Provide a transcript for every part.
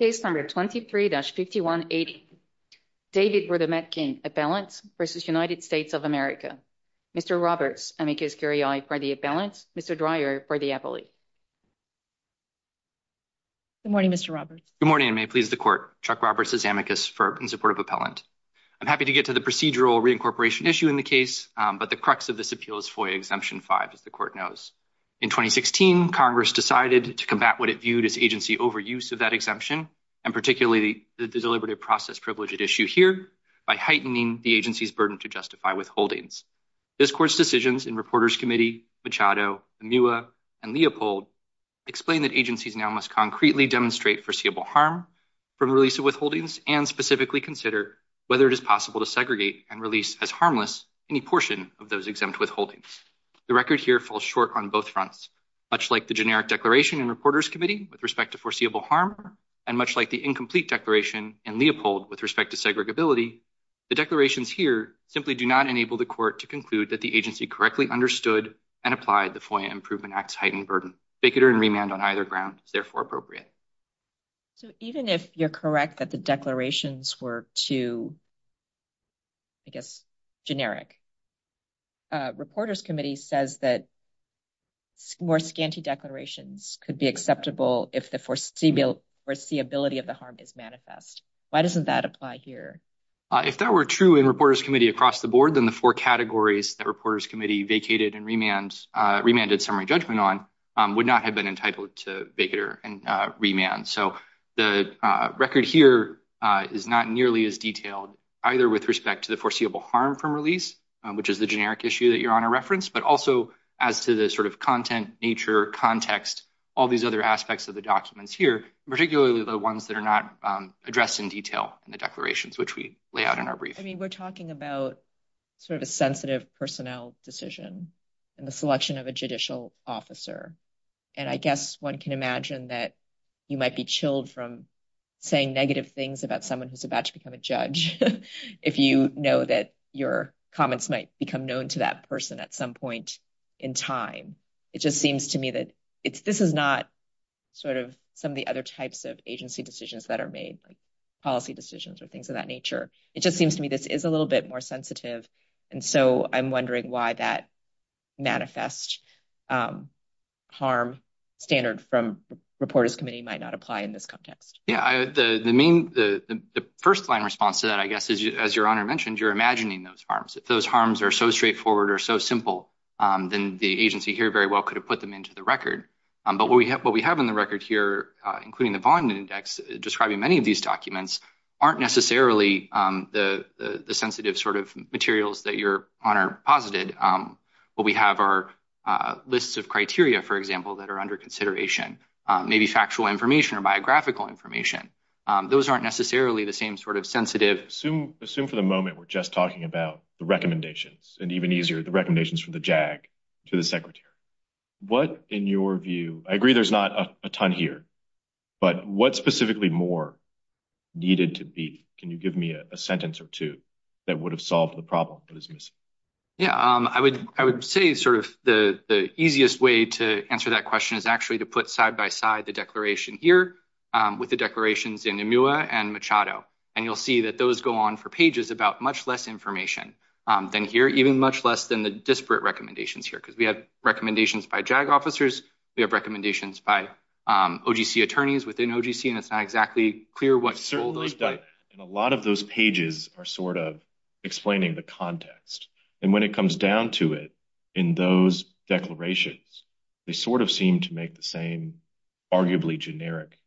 Case number 23-5180, David Rudometkin, appellant, v. United States of America. Mr. Roberts, amicus curiae, for the appellant. Mr. Dreyer, for the appellate. Good morning, Mr. Roberts. Good morning, and may it please the Court. Chuck Roberts, as amicus, in support of appellant. I'm happy to get to the procedural reincorporation issue in the case, but the crux of this appeal is FOIA Exemption 5, as the Court knows. In 2016, Congress decided to combat what it viewed as agency overuse of that exemption, and particularly the deliberative process privilege at issue here by heightening the agency's burden to justify withholdings. This Court's decisions in Reporters Committee, Machado, Amua, and Leopold explain that agencies now must concretely demonstrate foreseeable harm from release of withholdings and specifically consider whether it is possible to segregate and release as harmless any portion of those exempt withholdings. The record here falls short on both fronts. Much like the generic declaration in Reporters Committee with respect to foreseeable harm, and much like the incomplete declaration in Leopold with respect to segregability, the declarations here simply do not enable the Court to conclude that the agency correctly understood and applied the FOIA Improvement Act's heightened burden. Vigilance and remand on either ground is therefore appropriate. So even if you're correct that the declarations were too, I guess, generic, Reporters Committee says that more scanty declarations could be acceptable if the foreseeability of the harm is manifest. Why doesn't that apply here? If that were true in Reporters Committee across the board, then the four categories that Reporters Committee vacated and remanded summary judgment on would not have been entitled to vacater and remand. So the record here is not nearly as detailed either with respect to the foreseeable harm from release, which is the generic issue that Your Honor referenced, but also as to the sort of content, nature, context, all these other aspects of the documents here, particularly the ones that are not addressed in detail in the declarations, which we lay out in our brief. I mean, we're talking about sort of a sensitive personnel decision and the selection of a judicial officer. And I guess one can imagine that you might be chilled from saying negative things about someone who's about to become a judge if you know that your comments might become known to that person at some point in time. It just seems to me that this is not sort of some of the other types of agency decisions that are made, like policy decisions or things of that nature. It just seems to me this is a little bit more sensitive. And so I'm wondering why that manifest harm standard from Reporters Committee might not apply in this context. Yeah, the main, the first line response to that, I guess, as Your Honor mentioned, you're imagining those harms. If those harms are so straightforward or so simple, then the agency here very well could have put them into the record. But what we have in the record here, including the Vaughn Index describing many of these documents, aren't necessarily the sensitive sort of materials that Your Honor posited. What we have are lists of criteria, for example, that are under consideration, maybe factual information or biographical information. Those aren't necessarily the same sort of sensitive. Assume for the moment we're just talking about the recommendations, and even easier, the recommendations from the JAG to the Secretary. What, in your view, I agree there's not a ton here, but what specifically more needed to be, can you give me a sentence or two that would have solved the problem that is missing? Yeah, I would say sort of the easiest way to answer that question is actually to put side by side the declaration here with the declarations in EMUA and Machado. And you'll see that those go on for pages about much less information than here, even much less than the disparate recommendations here. Because we have recommendations by JAG officers, we have recommendations by OGC attorneys within OGC, and it's not exactly clear what role those play. And a lot of those pages are sort of explaining the context. And when it comes down to it, in those declarations, they sort of seem to make the same arguably generic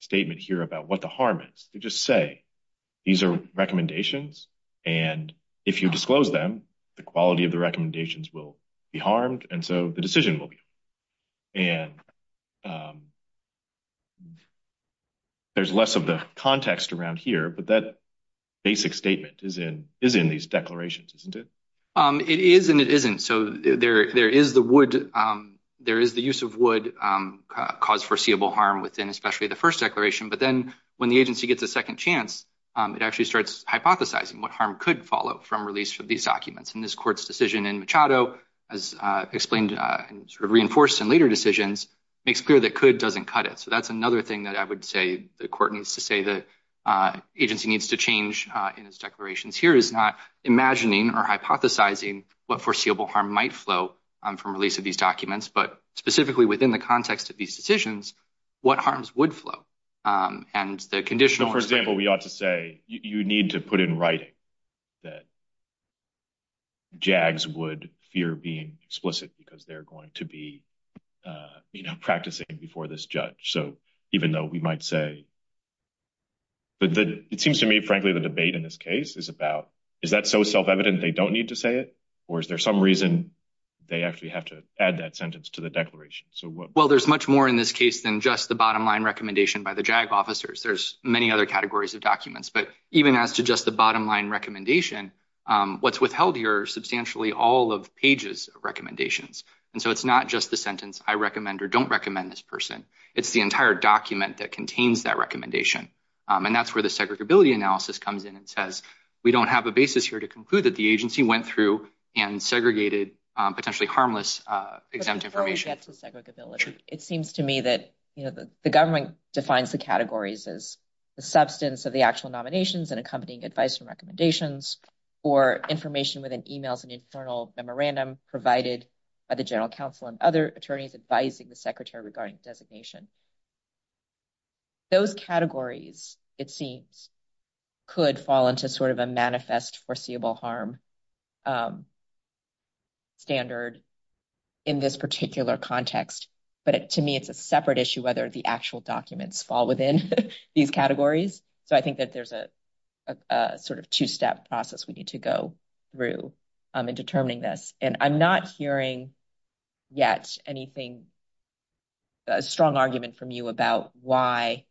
statement here about what the harm is. They just say, these are recommendations, and if you disclose them, the quality of the recommendations will be harmed, and so the decision will be made. And there's less of the context around here, but that basic statement is in these declarations, isn't it? It is and it isn't. So there is the use of wood caused foreseeable harm within especially the first declaration, but then when the agency gets a second chance, it actually starts hypothesizing what harm could follow from release of these documents. And this court's decision in Machado, as explained and sort of reinforced in later decisions, makes clear that could doesn't cut it. So that's another thing that I would say the court needs to say the agency needs to change in its declarations here is not imagining or hypothesizing what foreseeable harm might flow from release of these documents, but specifically within the context of these decisions, what harms would flow. And the conditional, for example, we ought to say you need to put in writing that JAGS would fear being explicit because they're going to be, you know, practicing before this judge. So even though we might say, but it seems to me, frankly, the debate in this case is about is that so self-evident they don't need to say it? Or is there some reason they actually have to add that sentence to the declaration? So well, there's much more in this case than just the bottom line recommendation by the JAG officers. There's many other categories of documents, but even as to just the bottom line recommendation, what's withheld here are substantially all of Page's recommendations. And so it's not just the sentence I recommend or don't recommend this person. It's the entire document that contains that recommendation. And that's where the segregability analysis comes in and says we don't have a basis here to conclude that the agency went through and segregated potentially harmless exempt information. But before we get to segregability, it seems to me that, you know, the government defines the categories as the substance of the actual nominations and accompanying advice and recommendations or information within emails and internal memorandum provided by the general counsel and other attorneys advising the secretary regarding designation. Those categories, it seems, could fall into sort of a manifest foreseeable harm standard in this particular context. But to me, it's a separate issue whether the actual documents fall within these categories. So I think that there's a sort of two-step process we need to go through in determining this. And I'm not hearing yet anything, a strong argument from you about why,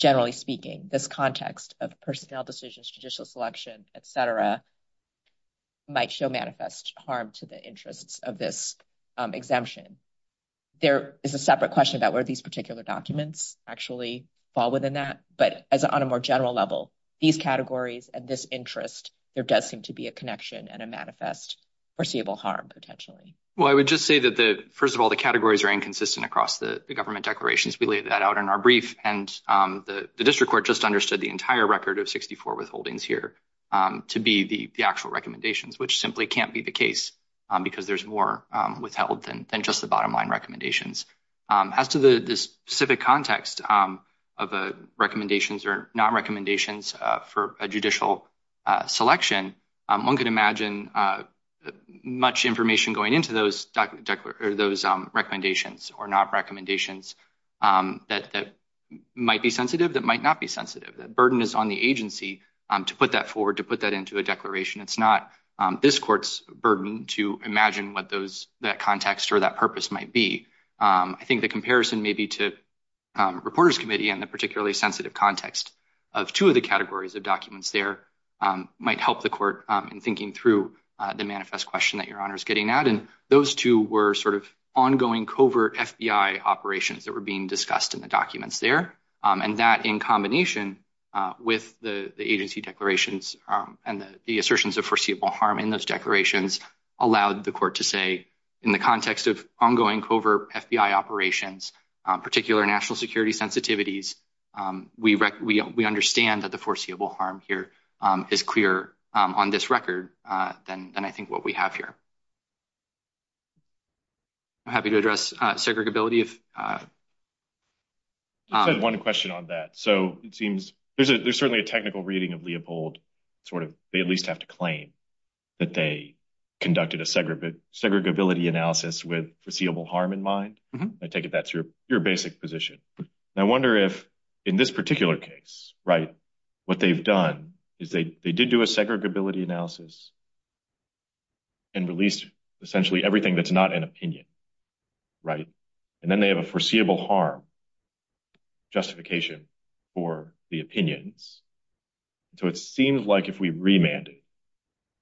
generally speaking, this context of personnel decisions, judicial selection, etc. might show manifest harm to the interests of this exemption. There is a separate question about where these particular documents actually fall within that. But as on a more general level, these categories and this interest, there does seem to be a connection and a manifest foreseeable harm potentially. Well, I would just say that the, first of all, the categories are inconsistent across the government declarations. We laid that out in our brief and the district just understood the entire record of 64 withholdings here to be the actual recommendations, which simply can't be the case because there's more withheld than just the bottom line recommendations. As to the specific context of recommendations or not recommendations for a judicial selection, one could imagine much information going into those recommendations or not recommendations that might be sensitive, that might not be sensitive. That burden is on the agency to put that forward, to put that into a declaration. It's not this court's burden to imagine what that context or that purpose might be. I think the comparison maybe to Reporters Committee and the particularly sensitive context of two of the categories of documents there might help the court in thinking through the manifest question that Your Honor is getting at. Those two were sort of ongoing covert FBI operations that were being discussed in the documents there, and that in combination with the agency declarations and the assertions of foreseeable harm in those declarations allowed the court to say in the context of ongoing covert FBI operations, particular national security sensitivities, we understand that the foreseeable harm here is clearer on this record than I think what we have here. I'm happy to address segregability. I have one question on that. There's certainly a technical reading of Leopold. They at least have to claim that they conducted a segregability analysis with foreseeable harm in mind. I take it that's your basic position. I wonder if in this particular case, what they've done is they did do a segregability analysis and released essentially everything that's not an opinion, right? And then they have a foreseeable harm justification for the opinions. So it seems like if we remanded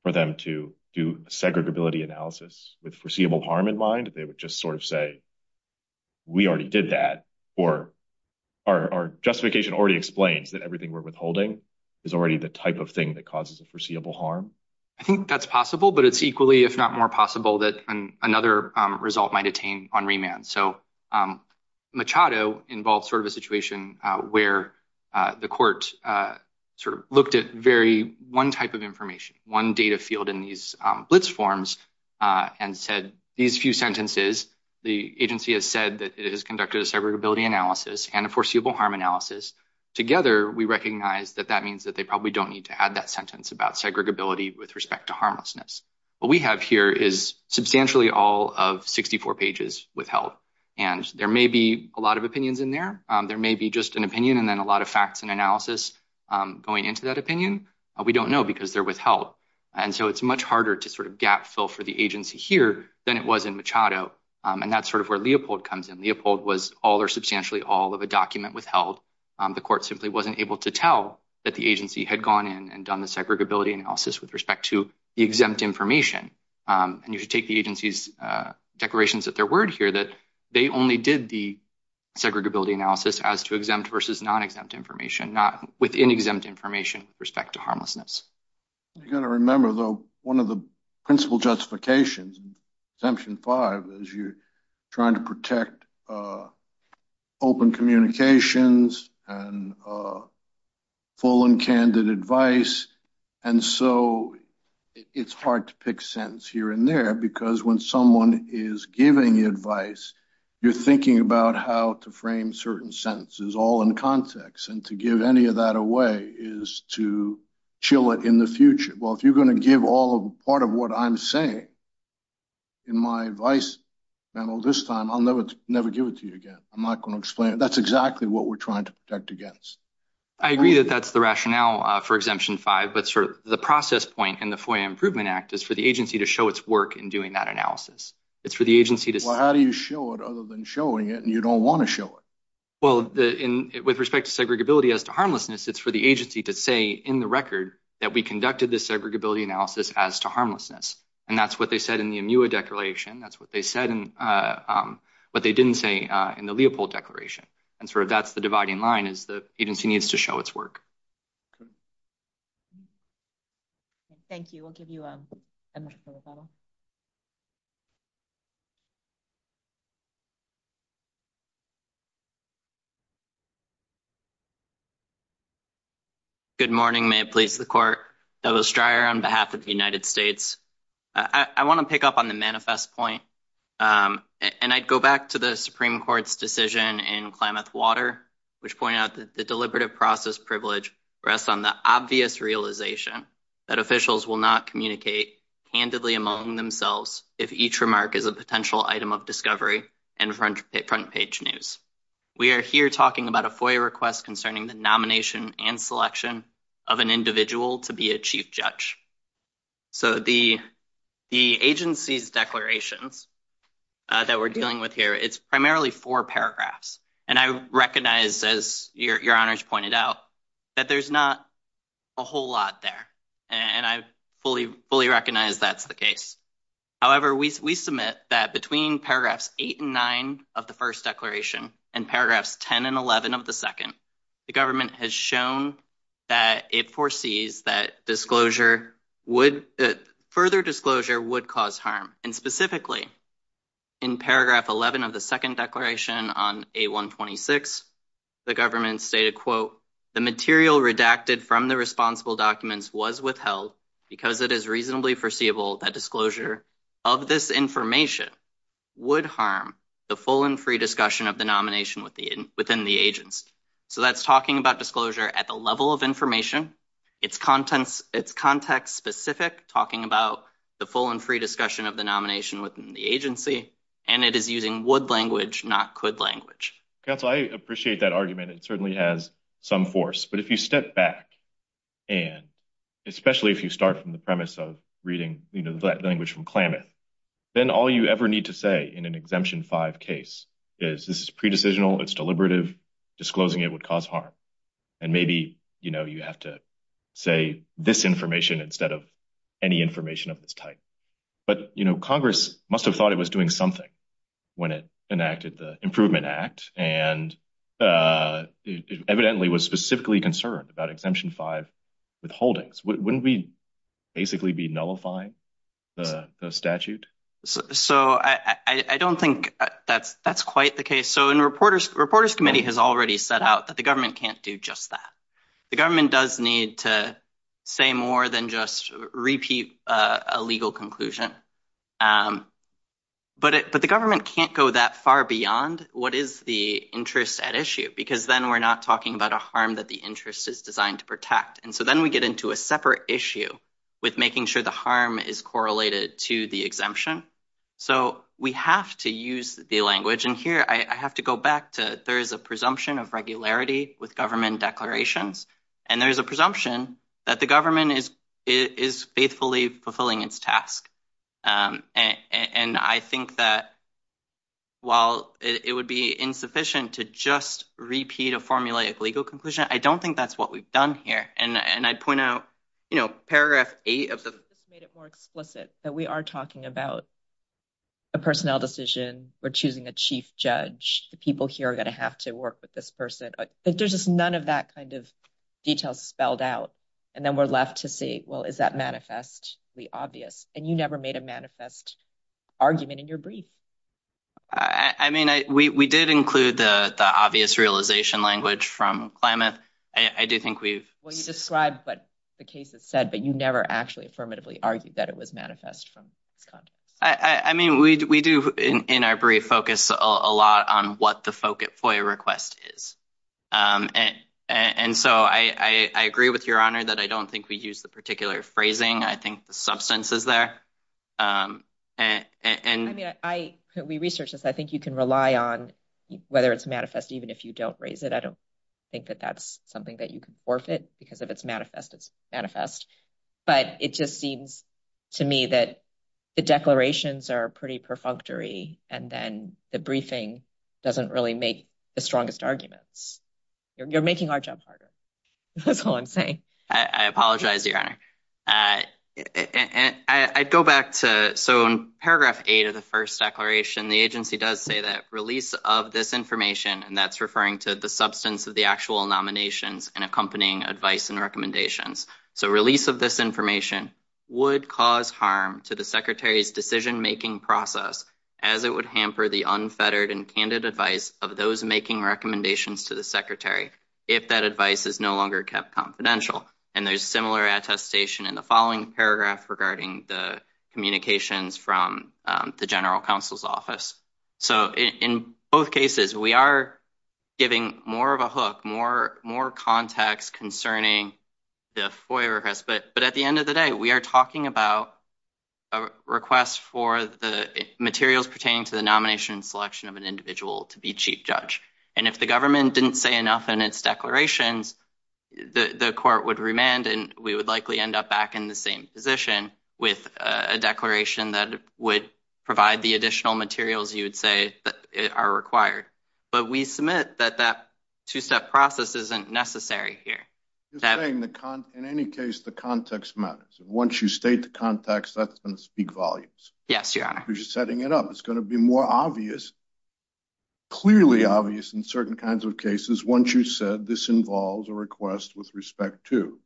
for them to do a segregability analysis with foreseeable harm in mind, they would just sort of say, we already did that, or our justification already explains that everything we're withholding is already the type of thing that causes a foreseeable harm. I think that's possible, but it's equally if not more possible that another result might attain on remand. So Machado involves sort of a situation where the court sort of looked at very one type of information, one data field in these blitz forms, and said these few sentences, the agency has said that it has conducted a segregability analysis and a foreseeable harm analysis. Together, we recognize that that means that they probably don't need to add that sentence about segregability with respect to harmlessness. What we have here is substantially all of 64 pages withheld, and there may be a lot of opinions in there. There may be just an opinion and then a lot of facts and analysis going into that opinion. We don't know because they're withheld. And so it's much harder to sort of fill for the agency here than it was in Machado. And that's sort of where Leopold comes in. Leopold was all or substantially all of a document withheld. The court simply wasn't able to tell that the agency had gone in and done the segregability analysis with respect to the exempt information. And you should take the agency's declarations at their word here that they only did the segregability analysis as to exempt versus non-exempt information, not within exempt information with respect to harmlessness. You've got to remember, though, one of the justifications, exemption five, is you're trying to protect open communications and full and candid advice. And so it's hard to pick a sentence here and there because when someone is giving advice, you're thinking about how to frame certain sentences all in context. And to give any of that away is to chill it in the future. Well, if you're going to give all of what I'm saying in my advice panel this time, I'll never give it to you again. I'm not going to explain it. That's exactly what we're trying to protect against. I agree that that's the rationale for exemption five, but sort of the process point in the FOIA Improvement Act is for the agency to show its work in doing that analysis. It's for the agency to... Well, how do you show it other than showing it and you don't want to show it? Well, with respect to segregability as to harmlessness, it's for the agency to say in the record that we conducted this segregability analysis as to harmlessness. And that's what they said in the MUA declaration. That's what they didn't say in the Leopold declaration. And sort of that's the dividing line is the agency needs to show its work. Thank you. We'll give you a microphone. Good morning. May it please the court. Douglas Stryer on behalf of the United States. I want to pick up on the manifest point. And I'd go back to the Supreme Court's decision in Klamath-Water, which pointed out that the deliberative process privilege rests on the obvious realization that officials will not communicate candidly among themselves if each remark is a potential item of discovery and front page news. We are here talking about a FOIA request concerning the nomination and selection of an individual to be a chief judge. So the agency's declarations that we're dealing with it's primarily four paragraphs. And I recognize, as your honors pointed out, that there's not a whole lot there. And I fully recognize that's the case. However, we submit that between paragraphs eight and nine of the first declaration and paragraphs 10 and 11 of the second, the government has shown that it foresees that further disclosure would cause harm. And specifically in paragraph 11 of the second declaration on A126, the government stated, quote, the material redacted from the responsible documents was withheld because it is reasonably foreseeable that disclosure of this information would harm the full and free discussion of the nomination within the agents. So that's talking about disclosure at the level of information. It's context specific, talking about the full and free discussion of the nomination within the agency. And it is using would language, not could language. Counsel, I appreciate that argument. It certainly has some force. But if you step back and especially if you start from the premise of reading the language from Klamath, then all you ever need to say in an exemption five case is this is pre-decisional, it's deliberative, disclosing it would cause harm. And maybe, you know, you have to say this information instead of any information of this type. But, you know, Congress must have thought it was doing something when it enacted the Improvement Act and evidently was specifically concerned about exemption five withholdings. Wouldn't we basically be nullifying the statute? So I don't think that's quite the case. So reporters committee has already set out that the government can't do just that. The government does need to say more than just repeat a legal conclusion. But the government can't go that far beyond what is the interest at issue because then we're not talking about a harm that the interest is designed to protect. And so then we get into a separate issue with making sure the harm is correlated to the exemption. So we have to use the language. I have to go back to there is a presumption of regularity with government declarations. And there's a presumption that the government is faithfully fulfilling its task. And I think that while it would be insufficient to just repeat a formulaic legal conclusion, I don't think that's what we've done here. And I'd point out, you know, paragraph eight of the. Made it more explicit that we are talking about a personnel decision. We're choosing a chief judge. The people here are going to have to work with this person. There's just none of that kind of detail spelled out. And then we're left to say, well, is that manifestly obvious? And you never made a manifest argument in your brief. I mean, we did include the obvious realization language from climate. I do think we've described, but the case is said, but you never actually affirmatively argued that it was manifest from Scott. I mean, we do in our brief focus a lot on what the FOIA request is. And so I agree with your honor that I don't think we use the particular phrasing. I think the substance is there. And I mean, I we researched this. I think you can rely on whether it's manifest, even if you don't raise it. I don't think that that's something that you But it just seems to me that the declarations are pretty perfunctory. And then the briefing doesn't really make the strongest arguments. You're making our job harder. That's all I'm saying. I apologize, your honor. And I'd go back to. So in paragraph eight of the first declaration, the agency does say that release of this information, and that's referring to the of the actual nominations and accompanying advice and recommendations. So release of this information would cause harm to the secretary's decision making process as it would hamper the unfettered and candid advice of those making recommendations to the secretary. If that advice is no longer kept confidential. And there's similar attestation in the following paragraph regarding the communications from the general counsel's office. So in both cases, we are giving more of a hook, more, more context concerning the FOIA request. But at the end of the day, we are talking about a request for the materials pertaining to the nomination and selection of an individual to be chief judge. And if the government didn't say enough in its declarations, the court would remand and we would likely end up back in the same position with a declaration that would provide the additional materials you would say that are required. But we submit that that two-step process isn't necessary here. In any case, the context matters. Once you state the context, that's going to speak volumes. Yes, Your Honor. You're just setting it up. It's going to be more obvious, clearly obvious in certain kinds of cases. Once you said this involves a request with respect to,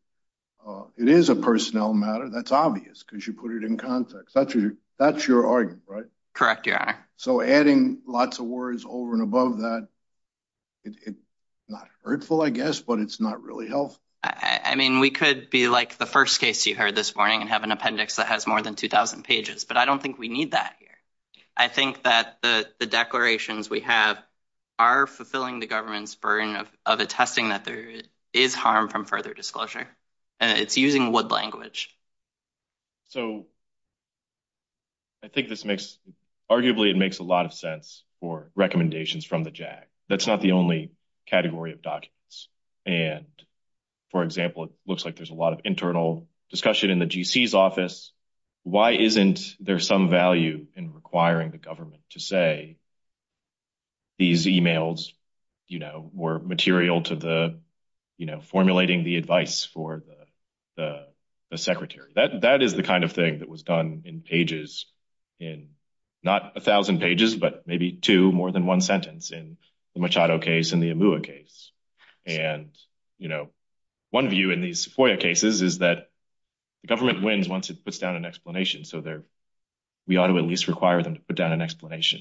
it is a personnel matter. That's obvious because you put it in context. That's your argument, right? Correct, Your Honor. So adding lots of words over and above that, it's not hurtful, I guess, but it's not really helpful. I mean, we could be like the first case you heard this morning and have an appendix that has more than 2,000 pages, but I don't think we need that here. I think that the declarations we have are fulfilling the government's burden of attesting that there is harm from further disclosure. It's using wood language. So I think this makes, arguably, it makes a lot of sense for recommendations from the JAG. That's not the only category of documents. And, for example, it looks like there's a lot of internal discussion in the GC's office. Why isn't there some value in requiring the government to say these emails were material to formulating the advice for the secretary? That is the kind of thing that was done in pages, in not 1,000 pages, but maybe two, more than one sentence in the Machado case and the Amua case. And one view in these FOIA cases is that the government wins once it puts down an explanation. So we ought to at least require them to put down an explanation.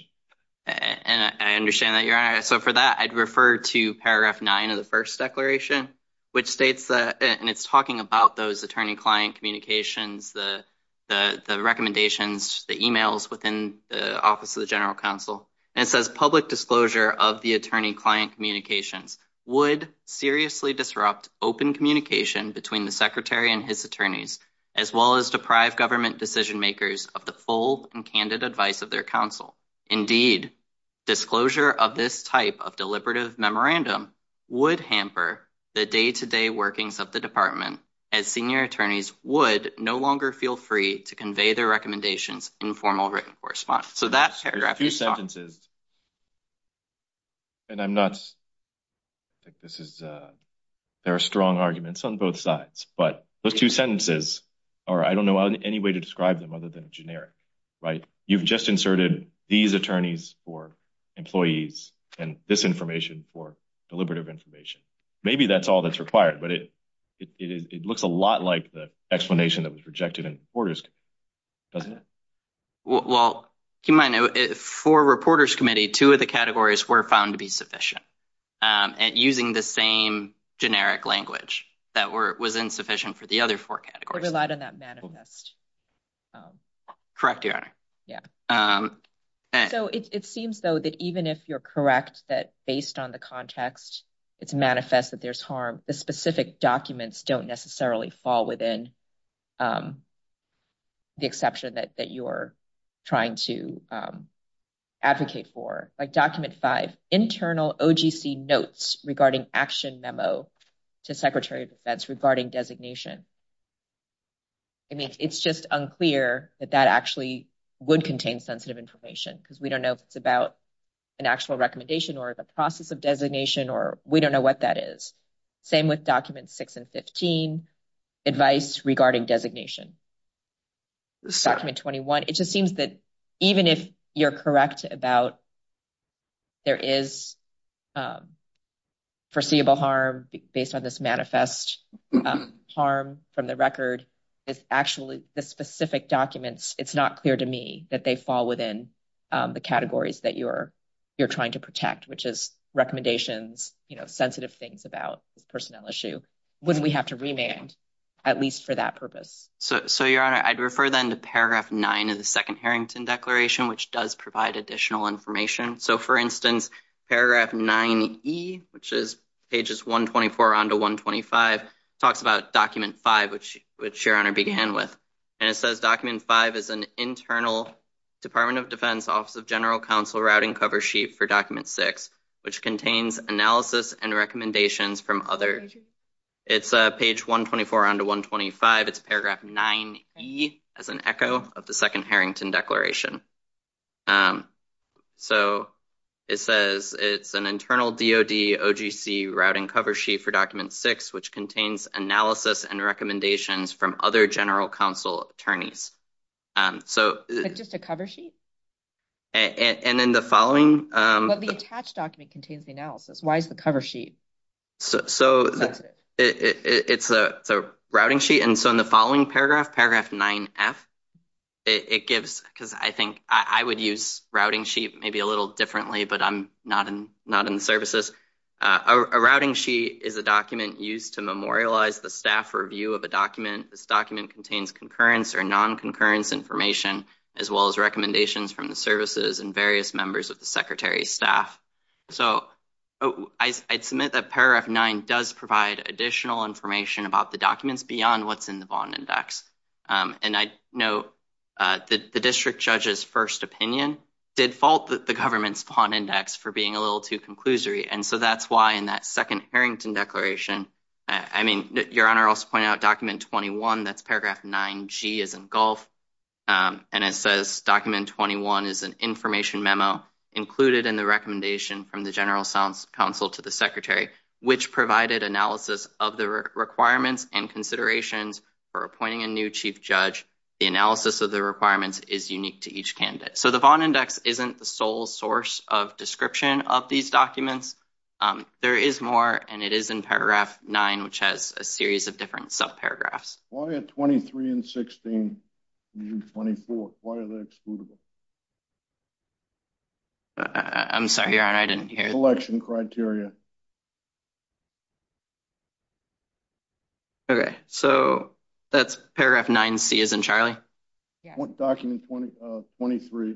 And I understand that, Your Honor. So for that, I'd refer to paragraph 9 of the first declaration, which states, and it's talking about those attorney-client communications, the recommendations, the emails within the Office of the General Counsel. And it says, public disclosure of the attorney-client communications would seriously disrupt open communication between the secretary and his attorneys, as well as deprive government decision-makers of the full and candid advice of their counsel. Indeed, disclosure of this type of deliberative memorandum would hamper the day-to-day workings of the department, as senior attorneys would no longer feel free to convey their recommendations in formal written correspondence. So that paragraph is- There's two sentences. And I'm not, this is, there are strong arguments on both sides. But those two sentences are, I don't know any way to describe them other than generic, right? You've just inserted these attorneys for employees and this information for deliberative information. Maybe that's all that's required, but it looks a lot like the explanation that was rejected in the Reporters Committee, doesn't it? Well, keep in mind, for Reporters Committee, two of the categories were found to be sufficient, and using the same generic language that was insufficient for the other four categories. It relied on that manifest. Correct, Your Honor. Yeah. So it seems, though, that even if you're correct, that based on the context, it's manifest that there's harm, the specific documents don't necessarily fall within the exception that you're trying to advocate for. Like document five, internal OGC notes regarding action memo to Secretary of Defense regarding designation. I mean, it's just unclear that that actually would contain sensitive information because we don't know if it's about an actual recommendation or the process of designation, or we don't know what that is. Same with documents six and 15, advice regarding designation. Document 21, it just seems that even if you're correct about there is foreseeable harm based on this manifest harm from the record, it's actually the specific documents, it's not clear to me that they fall within the categories that you're trying to protect, which is recommendations, you know, sensitive things about this personnel issue. Wouldn't we have to remand at least for that purpose? So, Your Honor, I'd refer then to paragraph nine of the second Harrington Declaration, which does provide additional information. So for instance, paragraph 9E, which is pages 124 on to 125, talks about document five, which Your Honor began with. And it says document five is an internal Department of Defense Office of General Counsel routing cover sheet for document six, which contains analysis and recommendations from other. It's page 124 on to 125. It's paragraph 9E as an echo of the second Harrington Declaration. So it says it's an internal DOD OGC routing cover sheet for document six, which contains analysis and recommendations from other General Counsel attorneys. So just a cover sheet. And then the following, but the attached document contains the analysis. Why is the cover sheet? So it's a routing sheet. And so in the following paragraph, paragraph 9F, it gives, because I think I would use routing sheet maybe a little differently, but I'm not in the services. A routing sheet is a document used to memorialize the staff review of a document. This document contains concurrence or non-concurrence information, as well as recommendations from the services and various members of the Secretary's staff. So I'd submit that paragraph nine does provide additional information about the documents beyond what's in the Vaughn Index. And I know that the district judge's first opinion did fault the government's Vaughn Index for being a little too conclusory. And so that's why in that second Harrington Declaration, I mean, Your Honor also pointed out document 21, that's paragraph 9G is in gulf. And it says document 21 is an information memo included in the recommendation from the General Counsel to the Secretary, which provided analysis of the requirements and considerations for appointing a new chief judge. The analysis of the requirements is unique to each candidate. So the Vaughn Index isn't the sole source of description of these documents. There is more, and it is in paragraph nine, which has a series of different sub-paragraphs. Why are 23 and 16 in 24? Why are they excludable? I'm sorry, Your Honor, I didn't hear. Collection criteria. Okay, so that's paragraph 9C is in Charlie. What document 23,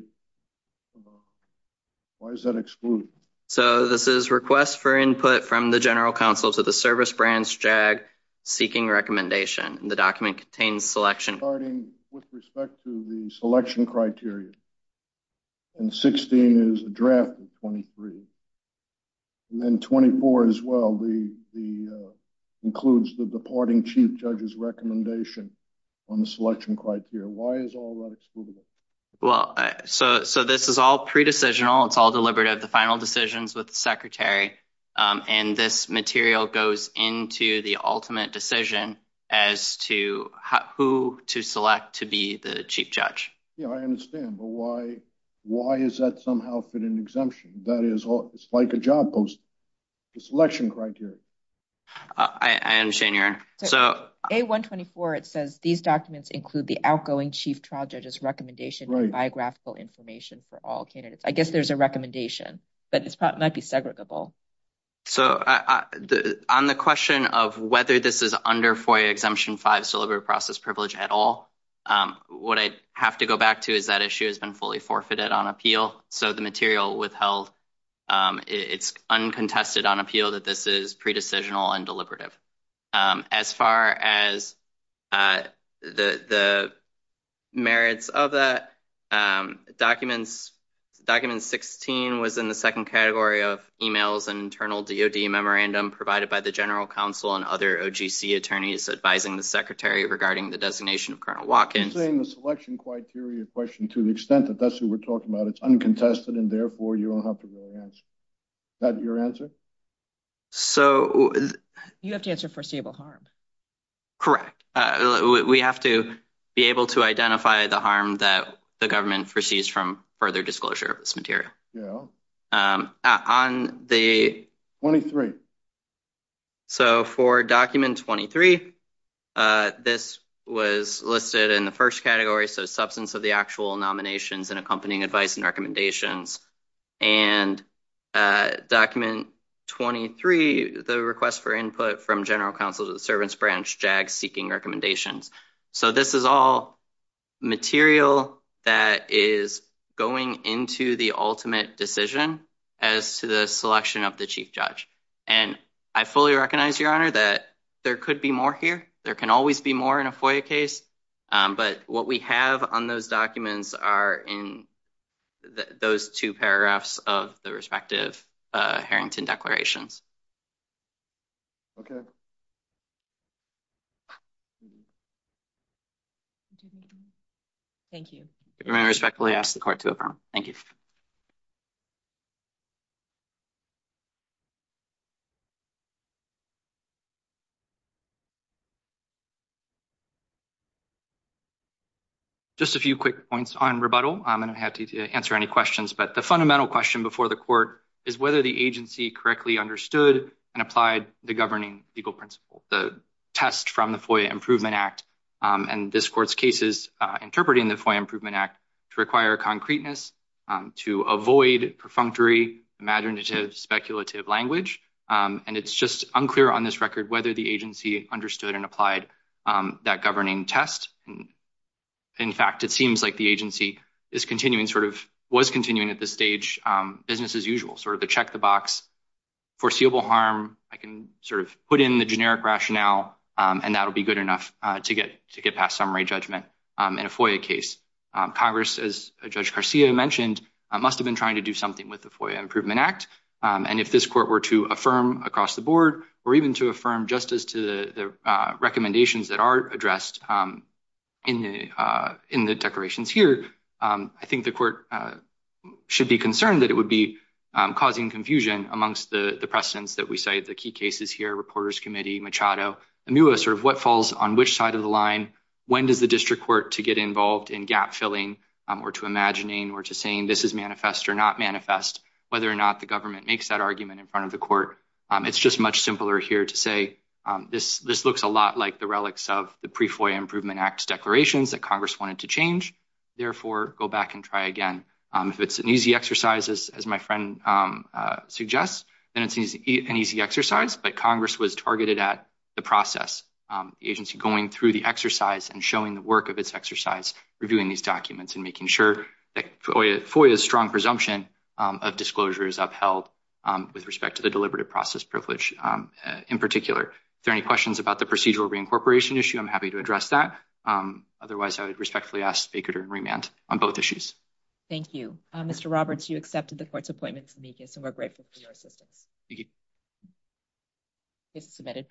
why is that excluded? So this is request for input from the General Counsel to the service branch JAG seeking recommendation. The document contains selection. Starting with respect to the selection criteria. And 16 is a draft of 23. And then 24 as well, includes the departing chief judge's recommendation on the selection criteria. Why is all that excluded? Well, so this is all pre-decisional. It's all deliberative, the final decisions with the secretary. And this material goes into the ultimate decision as to who to select to be the chief judge. Yeah, I understand. But why is that somehow fit an exemption? That is, it's like a job post, the selection criteria. I understand, Your Honor. So A124, it says these documents include the outgoing chief trial judge's recommendation and biographical information for all candidates. I guess there's a recommendation, but this might be segregable. So on the question of whether this is under FOIA exemption 5, deliberate process privilege at all, what I have to go back to is that issue has been fully forfeited on appeal. So the material withheld, it's uncontested on appeal that this is pre-decisional and deliberative. As far as the merits of that documents, document 16 was in the second category of emails and internal DOD memorandum provided by the general counsel and other OGC attorneys advising the secretary regarding the designation of Colonel Watkins. You're saying the selection criteria question to the extent that that's who we're talking about, it's uncontested and therefore you don't have to really answer. Is that your answer? So you have to answer foreseeable harm. Correct. We have to be able to identify the harm that the government foresees from further disclosure of this material. Yeah. On the 23. So for document 23, this was listed in the first category. So substance of the actual nominations and accompanying advice and recommendations. And document 23, the request for input from general counsel to the servants branch, JAG seeking recommendations. So this is all material that is going into the ultimate decision as to the selection of the chief judge. And I fully recognize your honor that there could be more here. There can always be more in a FOIA case. But what we have on those documents are in those two paragraphs of the respective Harrington declarations. Okay. Thank you. You may respectfully ask the court to adjourn. Thank you. Just a few quick points on rebuttal. I'm going to have to answer any questions, but the fundamental question before the court is whether the agency correctly understood and applied the governing legal principle, the test from the FOIA Improvement Act. And this court's case is interpreting the FOIA Improvement Act to require concreteness, to avoid perfunctory, imaginative, speculative language. And it's just unclear on this record whether the agency understood and applied that governing test. In fact, it seems like the agency is continuing, sort of was continuing at this stage, business as usual, sort of the check the harm. I can sort of put in the generic rationale and that'll be good enough to get past summary judgment in a FOIA case. Congress, as Judge Garcia mentioned, must have been trying to do something with the FOIA Improvement Act. And if this court were to affirm across the board or even to affirm justice to the recommendations that are addressed in the declarations here, I think the court should be concerned that it would be causing confusion amongst the precedents that we cite, the key cases here, Reporters Committee, Machado, Amuah, sort of what falls on which side of the line, when does the district court to get involved in gap filling or to imagining or to saying this is manifest or not manifest, whether or not the government makes that argument in front of the court. It's just much simpler here to say this looks a lot like the relics of the pre-FOIA Act declarations that Congress wanted to change. Therefore, go back and try again. If it's an easy exercise, as my friend suggests, then it's an easy exercise, but Congress was targeted at the process, the agency going through the exercise and showing the work of its exercise, reviewing these documents and making sure that FOIA's strong presumption of disclosure is upheld with respect to the deliberative process privilege in particular. If there are any about the procedural reincorporation issue, I'm happy to address that. Otherwise, I would respectfully ask Baker to remand on both issues. Thank you. Mr. Roberts, you accepted the court's appointment, and we're grateful for your assistance. Thank you. Case is submitted.